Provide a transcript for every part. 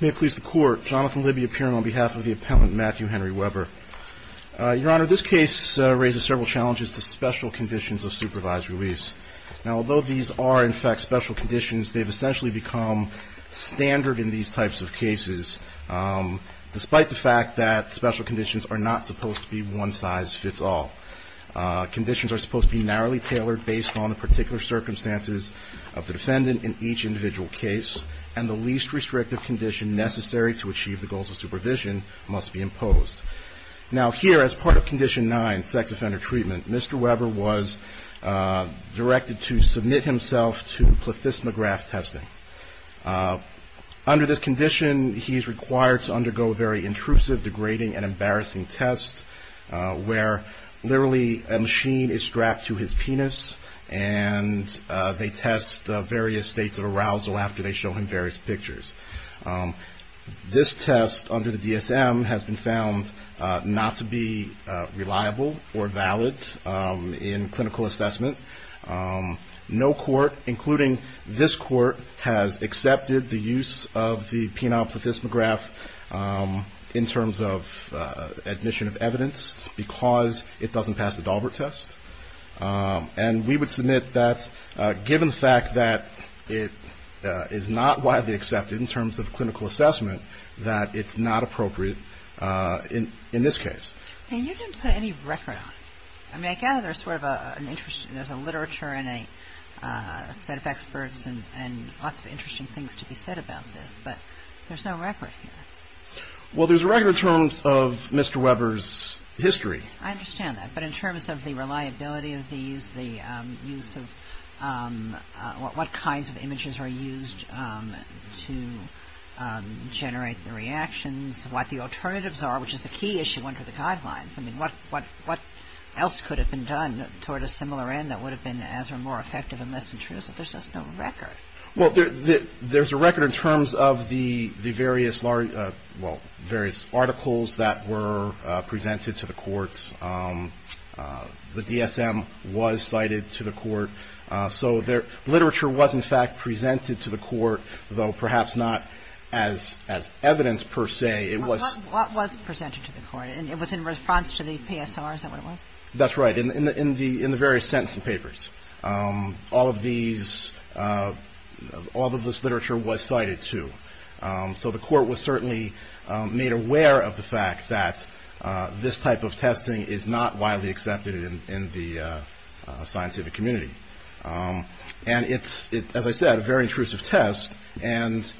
May it please the Court, Jonathan Libby appearing on behalf of the Appellant Matthew Henry Weber. Your Honor, this case raises several challenges to special conditions of supervised release. Now, although these are, in fact, special conditions, they've essentially become standard in these types of cases, despite the fact that special conditions are not supposed to be one-size-fits-all. Conditions are supposed to be narrowly tailored based on the particular circumstances of the defendant in each individual case, and the least restrictive condition necessary to achieve the goals of supervision must be imposed. Now, here, as part of Condition 9, sex offender treatment, Mr. Weber was directed to submit himself to plethysmograph testing. Under this condition, he's required to undergo a very intrusive, degrading, and embarrassing test, where literally a machine is strapped to his penis, and they test various states of arousal after they show him various pictures. This test under the DSM has been found not to be reliable or valid in clinical assessment. No court, including this court, has accepted the use of the penile plethysmograph in terms of admission of evidence. Because it doesn't pass the Daubert test. And we would submit that, given the fact that it is not widely accepted in terms of clinical assessment, that it's not appropriate in this case. And you didn't put any record on it. I mean, I gather there's a literature and a set of experts and lots of interesting things to be said about this, but there's no record here. Well, there's a record in terms of Mr. Weber's history. I understand that, but in terms of the reliability of these, the use of what kinds of images are used to generate the reactions, what the alternatives are, which is the key issue under the guidelines. I mean, what else could have been done toward a similar end that would have been as or more effective and less intrusive? There's just no record. Well, there's a record in terms of the various articles that were presented to the courts. The DSM was cited to the court. So literature was, in fact, presented to the court, though perhaps not as evidence per se. It was presented to the court. And it was in response to the PSR, is that what it was? That's right. In the various sentencing papers, all of these, all of this literature was cited to. So the court was certainly made aware of the fact that this type of testing is not widely accepted in the scientific community. And it's, as I said, a very intrusive test. And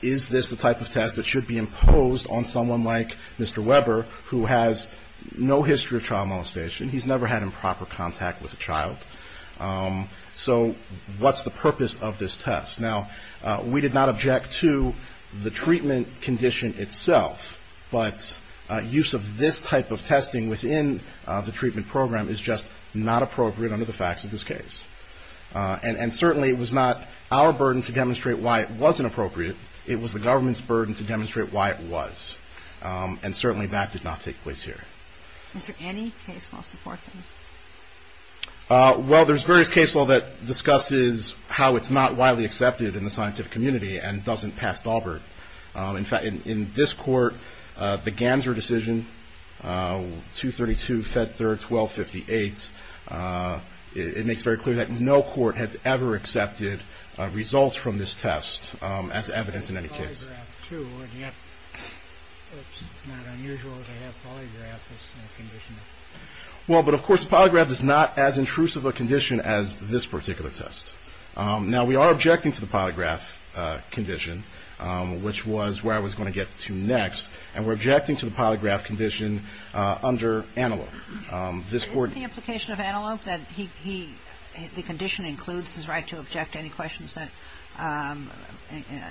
is this the type of test that should be imposed on someone like Mr. Weber, who has no history of child molestation? He's never had improper contact with a child. So what's the purpose of this test? Now, we did not object to the treatment condition itself, but use of this type of testing within the treatment program is just not appropriate under the facts of this case. And certainly it was not our burden to demonstrate why it wasn't appropriate. It was the government's burden to demonstrate why it was. And certainly that did not take place here. Is there any case law supporting this? Well, there's various case law that discusses how it's not widely accepted in the scientific community and doesn't pass Daubert. In fact, in this court, the Ganser decision, 232, Fed Third, 1258, it makes very clear that no court has ever accepted results from this test as evidence in any case. It's polygraphed, too, and yet it's not unusual to have polygraph as a condition. Well, but of course polygraph is not as intrusive a condition as this particular test. Now, we are objecting to the polygraph condition, which was where I was going to get to next. And we're objecting to the polygraph condition under Antelope. Isn't the implication of Antelope that the condition includes his right to object to any questions that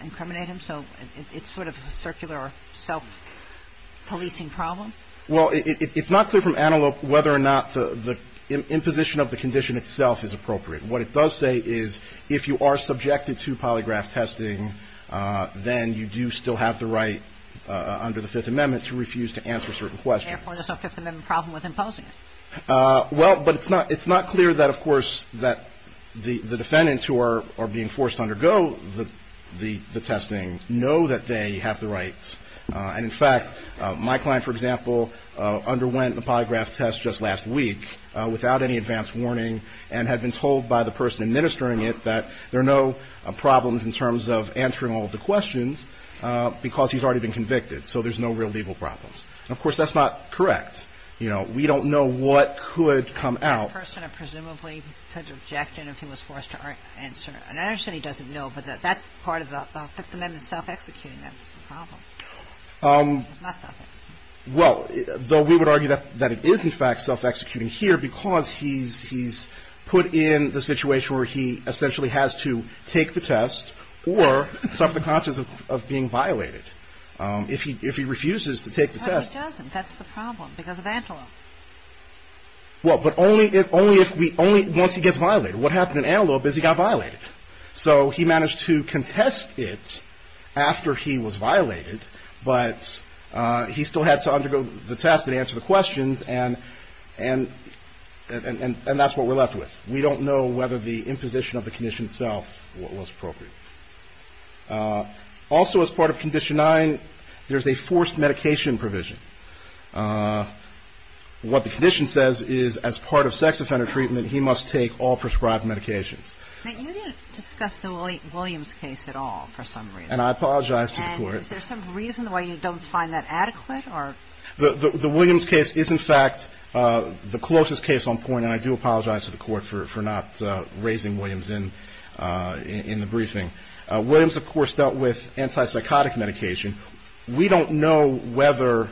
incriminate him? So it's sort of a circular or self-policing problem? Well, it's not clear from Antelope whether or not the imposition of the condition itself is appropriate. What it does say is if you are subjected to polygraph testing, then you do still have the right under the Fifth Amendment to refuse to answer certain questions. And therefore, there's no Fifth Amendment problem with imposing it? Well, but it's not clear that, of course, that the defendants who are being forced to undergo the testing know that they have the right. And, in fact, my client, for example, underwent the polygraph test just last week without any advance warning and had been told by the judge or by the person administering it that there are no problems in terms of answering all of the questions because he's already been convicted. So there's no real legal problems. And, of course, that's not correct. You know, we don't know what could come out. The person presumably could object if he was forced to answer. And I understand he doesn't know, but that's part of the Fifth Amendment self-executing. That's the problem. It's not self-executing. Well, though we would argue that it is, in fact, self-executing here because he's put in the situation where he essentially has to take the test or suffer the consequences of being violated. If he refuses to take the test... Well, but only if we only once he gets violated. What happened in Antelope is he got violated. So he managed to contest it after he was violated, but he still had to undergo the test and answer the questions. And that's what we're left with. We don't know whether the imposition of the condition itself was appropriate. Also, as part of Condition 9, there's a forced medication provision. What the condition says is as part of sex offender treatment, he must take all prescribed medications. But you didn't discuss the Williams case at all for some reason. And I apologize to the Court. Is there some reason why you don't find that adequate? The Williams case is, in fact, the closest case on point. And I do apologize to the Court for not raising Williams in the briefing. Williams, of course, dealt with antipsychotic medication. We don't know whether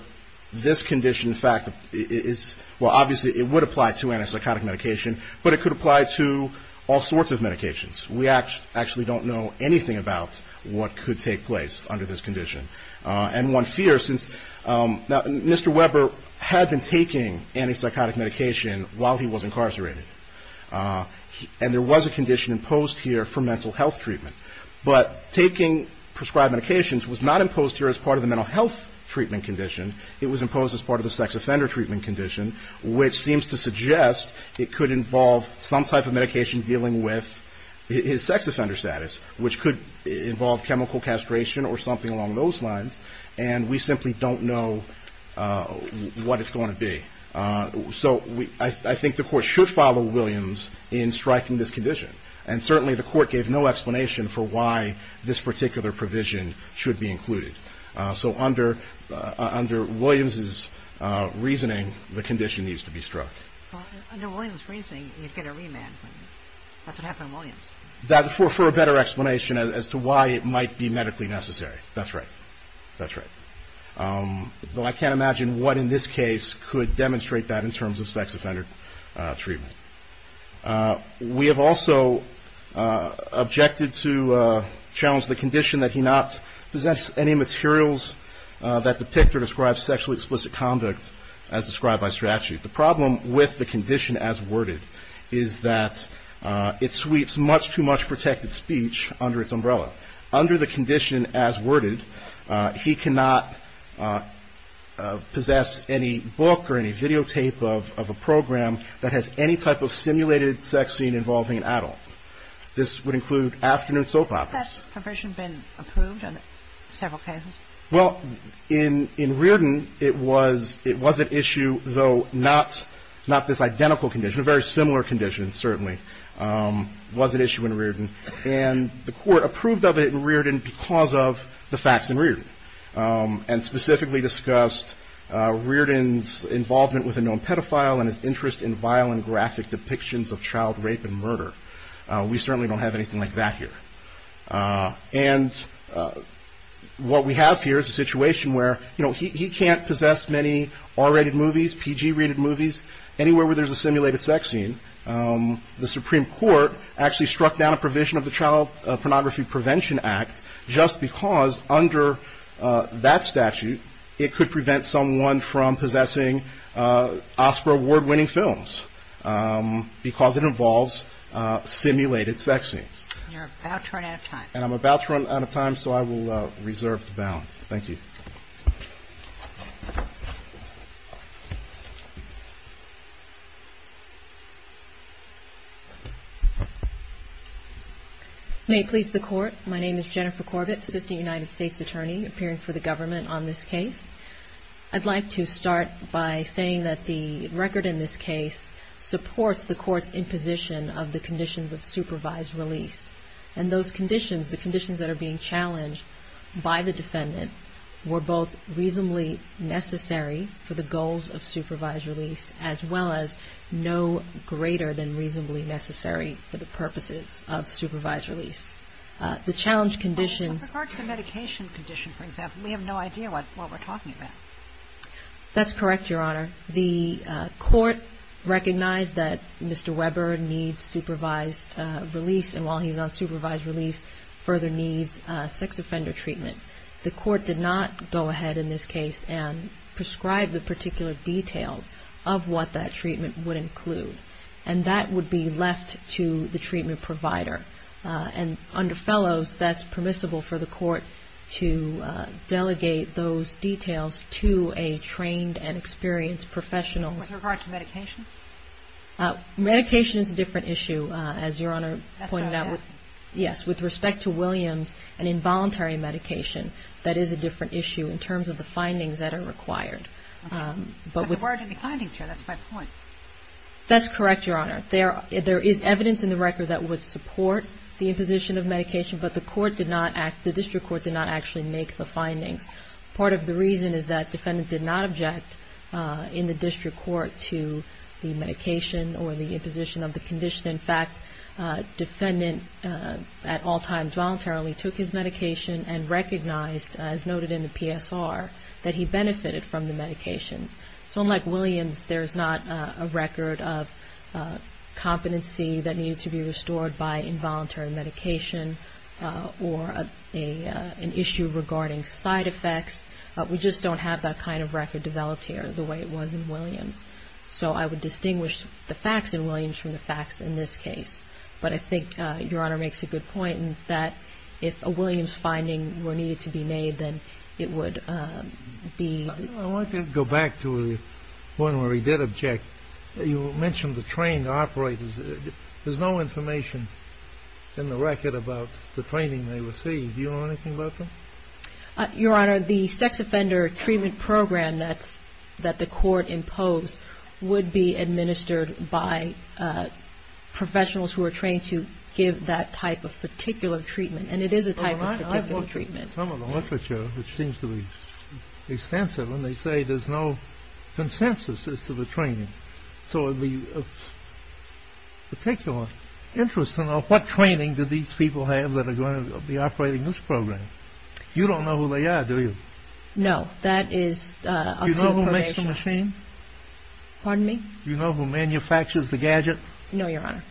this condition, in fact, is... And one fears, since Mr. Weber had been taking antipsychotic medication while he was incarcerated, and there was a condition imposed here for mental health treatment. But taking prescribed medications was not imposed here as part of the mental health treatment condition. It was imposed as part of the sex offender treatment condition, which seems to suggest it could involve some type of medication dealing with his sex offender status, which could involve chemical castration or something along those lines. And we simply don't know what it's going to be. So I think the Court should follow Williams in striking this condition. And certainly the Court gave no explanation for why this particular provision should be included. So under Williams' reasoning, the condition needs to be struck. Well, under Williams' reasoning, you'd get a remand. That's what happened to Williams. For a better explanation as to why it might be medically necessary. That's right. That's right. Though I can't imagine what in this case could demonstrate that in terms of sex offender treatment. We have also objected to challenge the condition that he not possess any materials that depict or describe sexually explicit conduct as described by statute. The problem with the condition as worded is that it sweeps much too much protected speech under its umbrella. Under the condition as worded, he cannot possess any book or any videotape of a program that has any type of simulated sex scene involving an adult. This would include afternoon soap operas. Has that provision been approved on several cases? Well, in Riordan, it was an issue, though not this identical condition. A very similar condition, certainly, was an issue in Riordan. And the Court approved of it in Riordan because of the facts in Riordan. And specifically discussed Riordan's involvement with a known pedophile and his interest in violent graphic depictions of child rape and murder. We certainly don't have anything like that here. And what we have here is a situation where he can't possess many R-rated movies, PG-rated movies, anywhere where there's a simulated sex scene. The Supreme Court actually struck down a provision of the Child Pornography Prevention Act just because under that statute it could prevent someone from possessing Oscar-award winning films because it involves simulated sex scenes. And I'm about to run out of time, so I will reserve the balance. Thank you. May it please the Court. My name is Jennifer Corbett, Assistant United States Attorney, appearing for the Government on this case. I'd like to start by saying that the record in this case supports the Court's imposition of the conditions of supervised release. And those conditions, the conditions that are being challenged by the defendant, were both reasonably necessary for the goals of supervised release as well as no greater than reasonably necessary for the purposes of supervised release. The challenge conditions... With regard to the medication condition, for example, we have no idea what we're talking about. That's correct, Your Honor. The Court recognized that Mr. Weber needs supervised release and while he's on supervised release further needs sex offender treatment. The Court did not go ahead in this case and prescribe the particular details of what that treatment would include. And that would be left to the treatment provider. And under fellows, that's permissible for the Court to delegate those details to a trained and experienced professional. With regard to medication? Medication is a different issue, as Your Honor pointed out. With respect to Williams, an involuntary medication, that is a different issue in terms of the findings that are required. But there weren't any findings here, that's my point. That's correct, Your Honor. There is evidence in the record that would support the imposition of medication, but the District Court did not actually make the findings. Part of the reason is that the defendant did not object in the District Court to the medication or the imposition of the condition. In fact, the defendant at all times voluntarily took his medication and recognized, as noted in the PSR, that he benefited from the medication. So unlike Williams, there's not a record of competency that needed to be restored by involuntary medication or an issue regarding side effects. We just don't have that kind of record developed here the way it was in Williams. So I would distinguish the facts in Williams from the facts in this case. But I think Your Honor makes a good point that if a Williams finding were needed to be made, then it would be. I want to go back to the point where he did object. You mentioned the trained operators. There's no information in the record about the training they received. Do you know anything about that? Your Honor, the sex offender treatment program that the court imposed would be administered by professionals who are trained to give that type of particular treatment. And it is a type of particular treatment. And they say there's no consensus as to the training. So what training do these people have that are going to be operating this program? You don't know who they are, do you? No, that is. Pardon me? You know who manufactures the gadget? No, Your Honor.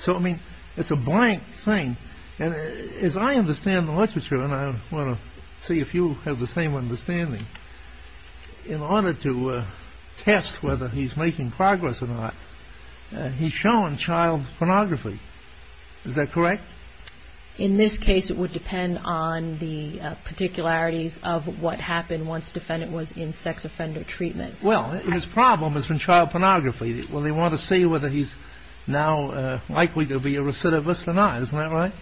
So, I mean, it's a blank thing. And as I understand the literature, and I want to see if you have the same understanding, in order to test whether he's making progress or not, he's shown child pornography. Is that correct? In this case, it would depend on the particularities of what his problem is in child pornography. Well, they want to see whether he's now likely to be a recidivist or not. Isn't that right?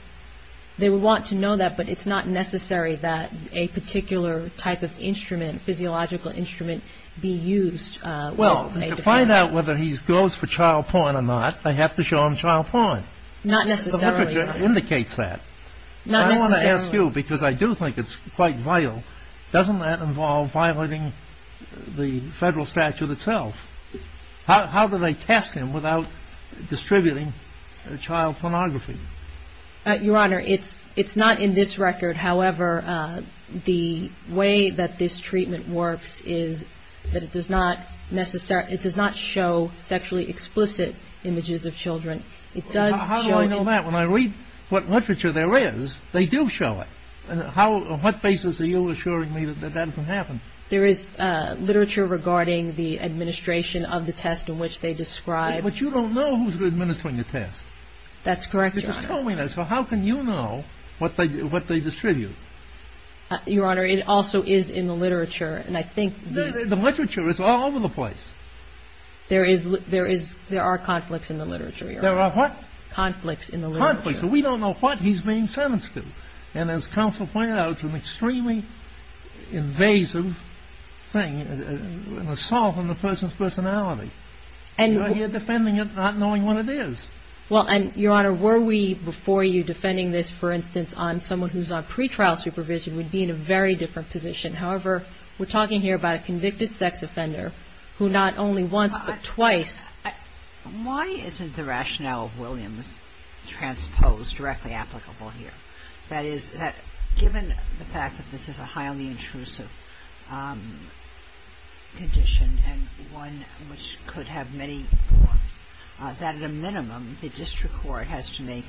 They would want to know that, but it's not necessary that a particular type of instrument, physiological instrument, be used to find out whether he goes for child porn or not. They have to show him child porn. Not necessarily. The literature indicates that. I want to ask you, because I do think it's quite vital, doesn't that involve violating the federal statute itself? How do they test him without distributing child pornography? Your Honor, it's not in this record. However, the way that this treatment works is that it does not show sexually explicit images of children. How do I know that? When I read what literature there is, they do show it. On what basis are you assuring me that that doesn't happen? There is literature regarding the administration of the test in which they describe... But you don't know who's administering the test. That's correct, Your Honor. So how can you know what they distribute? Your Honor, it also is in the literature, and I think... The literature is all over the place. There are conflicts in the literature, Your Honor. There are what? Conflicts in the literature. Conflicts. We don't know what he's being sentenced to. And as counsel pointed out, it's an extremely invasive thing, an assault on the person's personality. You're defending it not knowing what it is. Well, and Your Honor, were we before you defending this, for instance, on someone who's on trial here, who not only once but twice... Why isn't the rationale of Williams transposed directly applicable here? That is, given the fact that this is a highly intrusive condition and one which could have many forms, that at a minimum, the district court has to make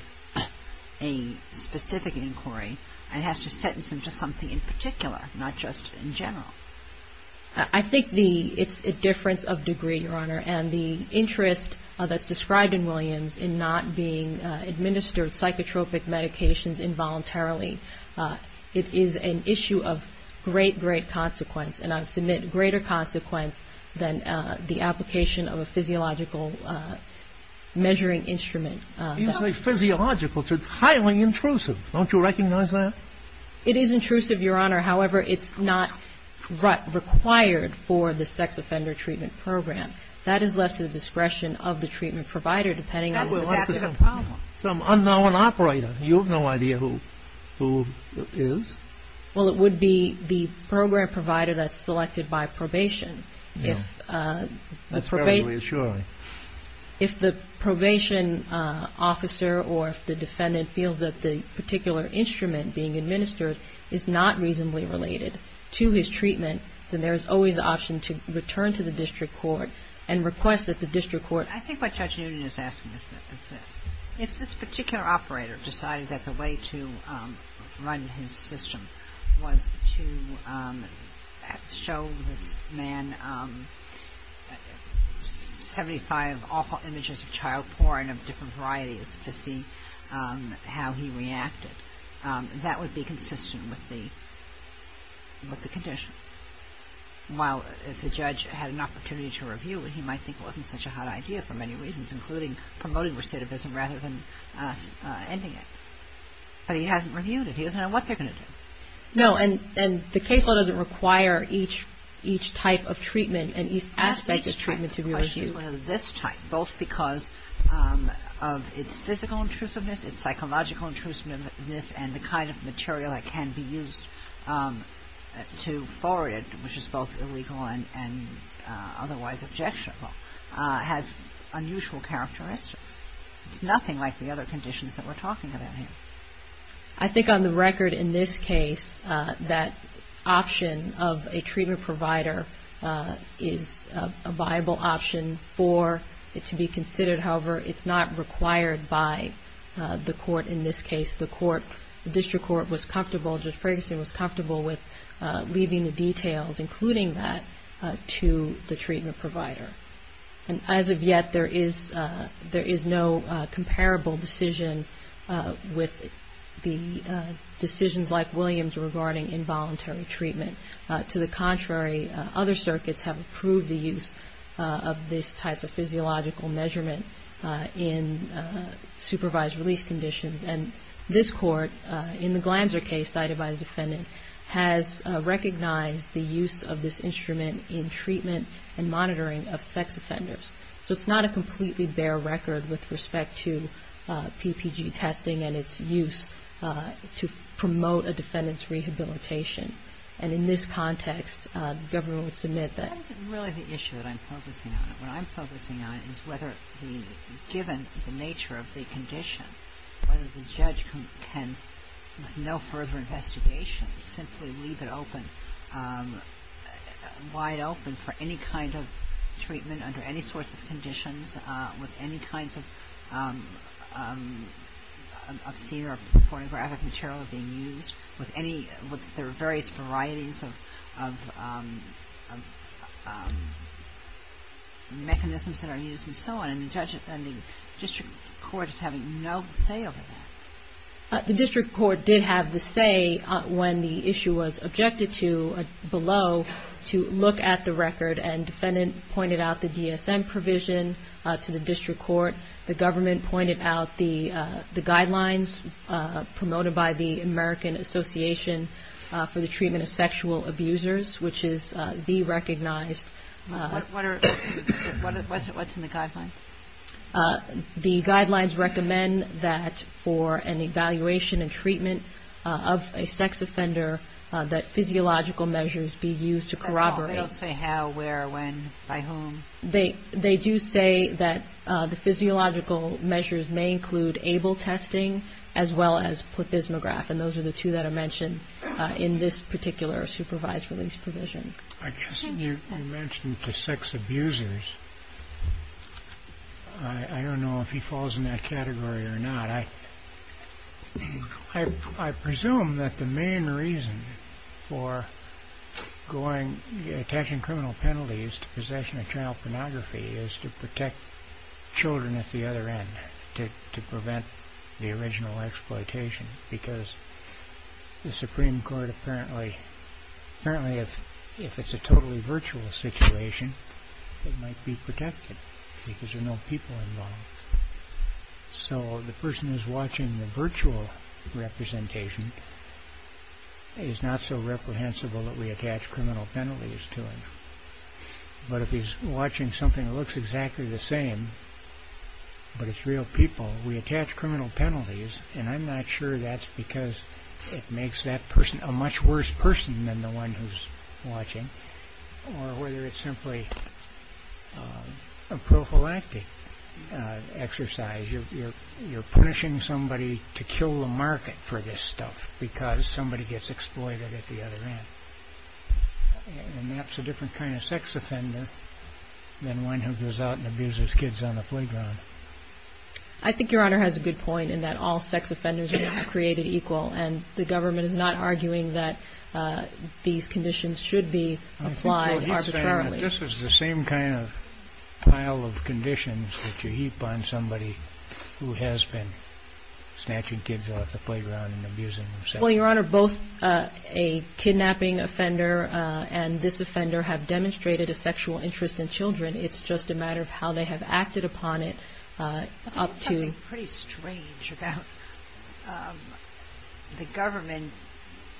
a specific inquiry and has to assess a difference of degree, Your Honor, and the interest that's described in Williams in not being administered psychotropic medications involuntarily. It is an issue of great, great consequence, and I submit greater consequence than the application of a physiological measuring instrument. You say physiological. It's highly intrusive. Don't you recognize that? It is intrusive, Your Honor. However, it's not required for the sex offender treatment program. That is left to the discretion of the treatment provider, depending on... That would have been a problem. Well, it would be the program provider that's selected by probation. That's very reassuring. If the probation officer or if the defendant feels that the particular instrument being administered is not reasonably related to his treatment, then there is always the option to return to the district court and request that the district court... I think what Judge Noonan is asking is this. If this particular operator decided that the way to run his system was to show this man 75 awful images of child porn of different varieties to see how he reacted, that would be consistent with the condition. While if the judge had an opportunity to review it, he might think it wasn't such a hot idea for many reasons, including promoting recidivism rather than ending it. But he hasn't reviewed it. He doesn't know what they're going to do. No, and the case law doesn't require each type of treatment and each aspect of treatment to be reviewed. Both because of its physical intrusiveness, its psychological intrusiveness, and the kind of material that can be used to forward it, which is both illegal and otherwise objectionable, has unusual characteristics. It's nothing like the other conditions that we're talking about here. I think on the record in this case, that option of a treatment provider is a viable option for it to be considered. However, it's not required by the court in this case. The court, the district court was comfortable, Judge Ferguson was comfortable with leaving the details, including that to the treatment provider. And as of yet, there is no comparable decision with the decisions like Williams regarding involuntary treatment. To the contrary, other circuits have approved the use of this type of physiological measurement in supervised release conditions. And this court, in the Glanzer case cited by the defendant, has recognized the use of this instrument in treatment and monitoring of sex offenders. So it's not a completely bare record with respect to PPG testing and its use to promote a defendant's rehabilitation. And in this context, the government would submit that. I think it's really the issue that I'm focusing on. What I'm focusing on is whether the given the nature of the condition, whether the judge can, with no further investigation, simply leave it open, wide open for any kind of treatment under any sorts of conditions with any kinds of obscene or pornographic material being used with any, there are various varieties of mechanisms that are used and so on. And the district court is having no say over that. The district court did have the say when the issue was objected to below to look at the record. And the defendant pointed out the DSM provision to the district court. The government pointed out the guidelines promoted by the American Association for the Treatment of Sexual Abusers, which is the recognized What's in the guidelines? The guidelines recommend that for an evaluation and treatment of a sex offender, that physiological measures be used to corroborate. They don't say how, where, when, by whom? They do say that the physiological measures may include able testing as well as plepismograph. And those are the two that are mentioned in this particular supervised release provision. I don't know if he falls in that category or not. I presume that the main reason for attaching criminal penalties to possession of child pornography is to protect children at the other end, to prevent the original exploitation. Because the Supreme Court apparently, if it's a totally virtual situation, it might be protected because there are no people involved. So the person who's watching the virtual representation is not so reprehensible that we attach criminal penalties to him. But if he's watching something that looks exactly the same, but it's real people, we attach criminal penalties. And I'm not sure that's because it makes that person a much worse person than the one who's watching, or whether it's simply a prophylactic exercise. You're punishing somebody to kill the market for this stuff because somebody gets exploited at the other end. And that's a different kind of sex offender than one who goes out and abuses kids on the playground. I think Your Honor has a good point in that all sex offenders are not created equal. And the government is not arguing that these conditions should be applied arbitrarily. I think what he's saying is that this is the same kind of pile of conditions that you heap on somebody who has been snatching kids off the playground and abusing them. Well, Your Honor, both a kidnapping offender and this offender have demonstrated a sexual interest in children. It's just a matter of how they have acted upon it. I think there's something pretty strange about the government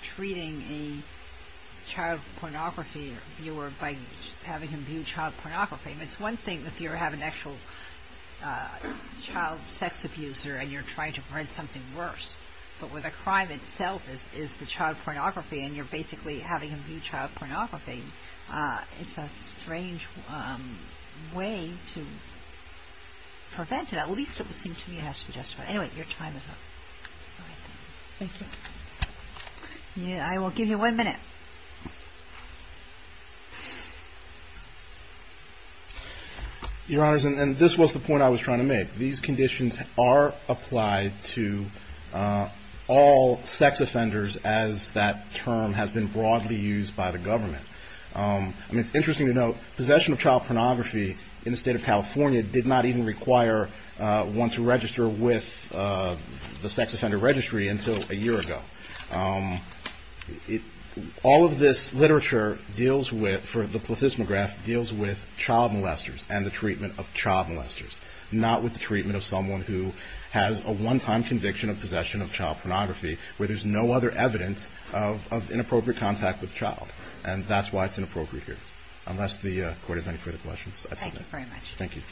treating a child pornography viewer by having him view child pornography. It's one thing if you have an actual child sex abuser and you're trying to prevent something worse. But where the crime itself is the child pornography and you're basically having him view child pornography, it's a strange way to prevent it. At least it would seem to me it has to be justified. Anyway, your time is up. Thank you. I will give you one minute. Your Honor, and this was the point I was trying to make. These conditions are applied to all sex offenders as that term has been broadly used by the government. Possession of child pornography in the state of California did not even require one to register with the sex offender registry until a year ago. All of this literature for the plethysmograph deals with child molesters and the treatment of child molesters, not with the treatment of someone who has a one-time conviction of possession of child pornography, where there's no other evidence of inappropriate contact with the child. And that's why it's inappropriate here. Unless the Court has any further questions, I submit. Thank you.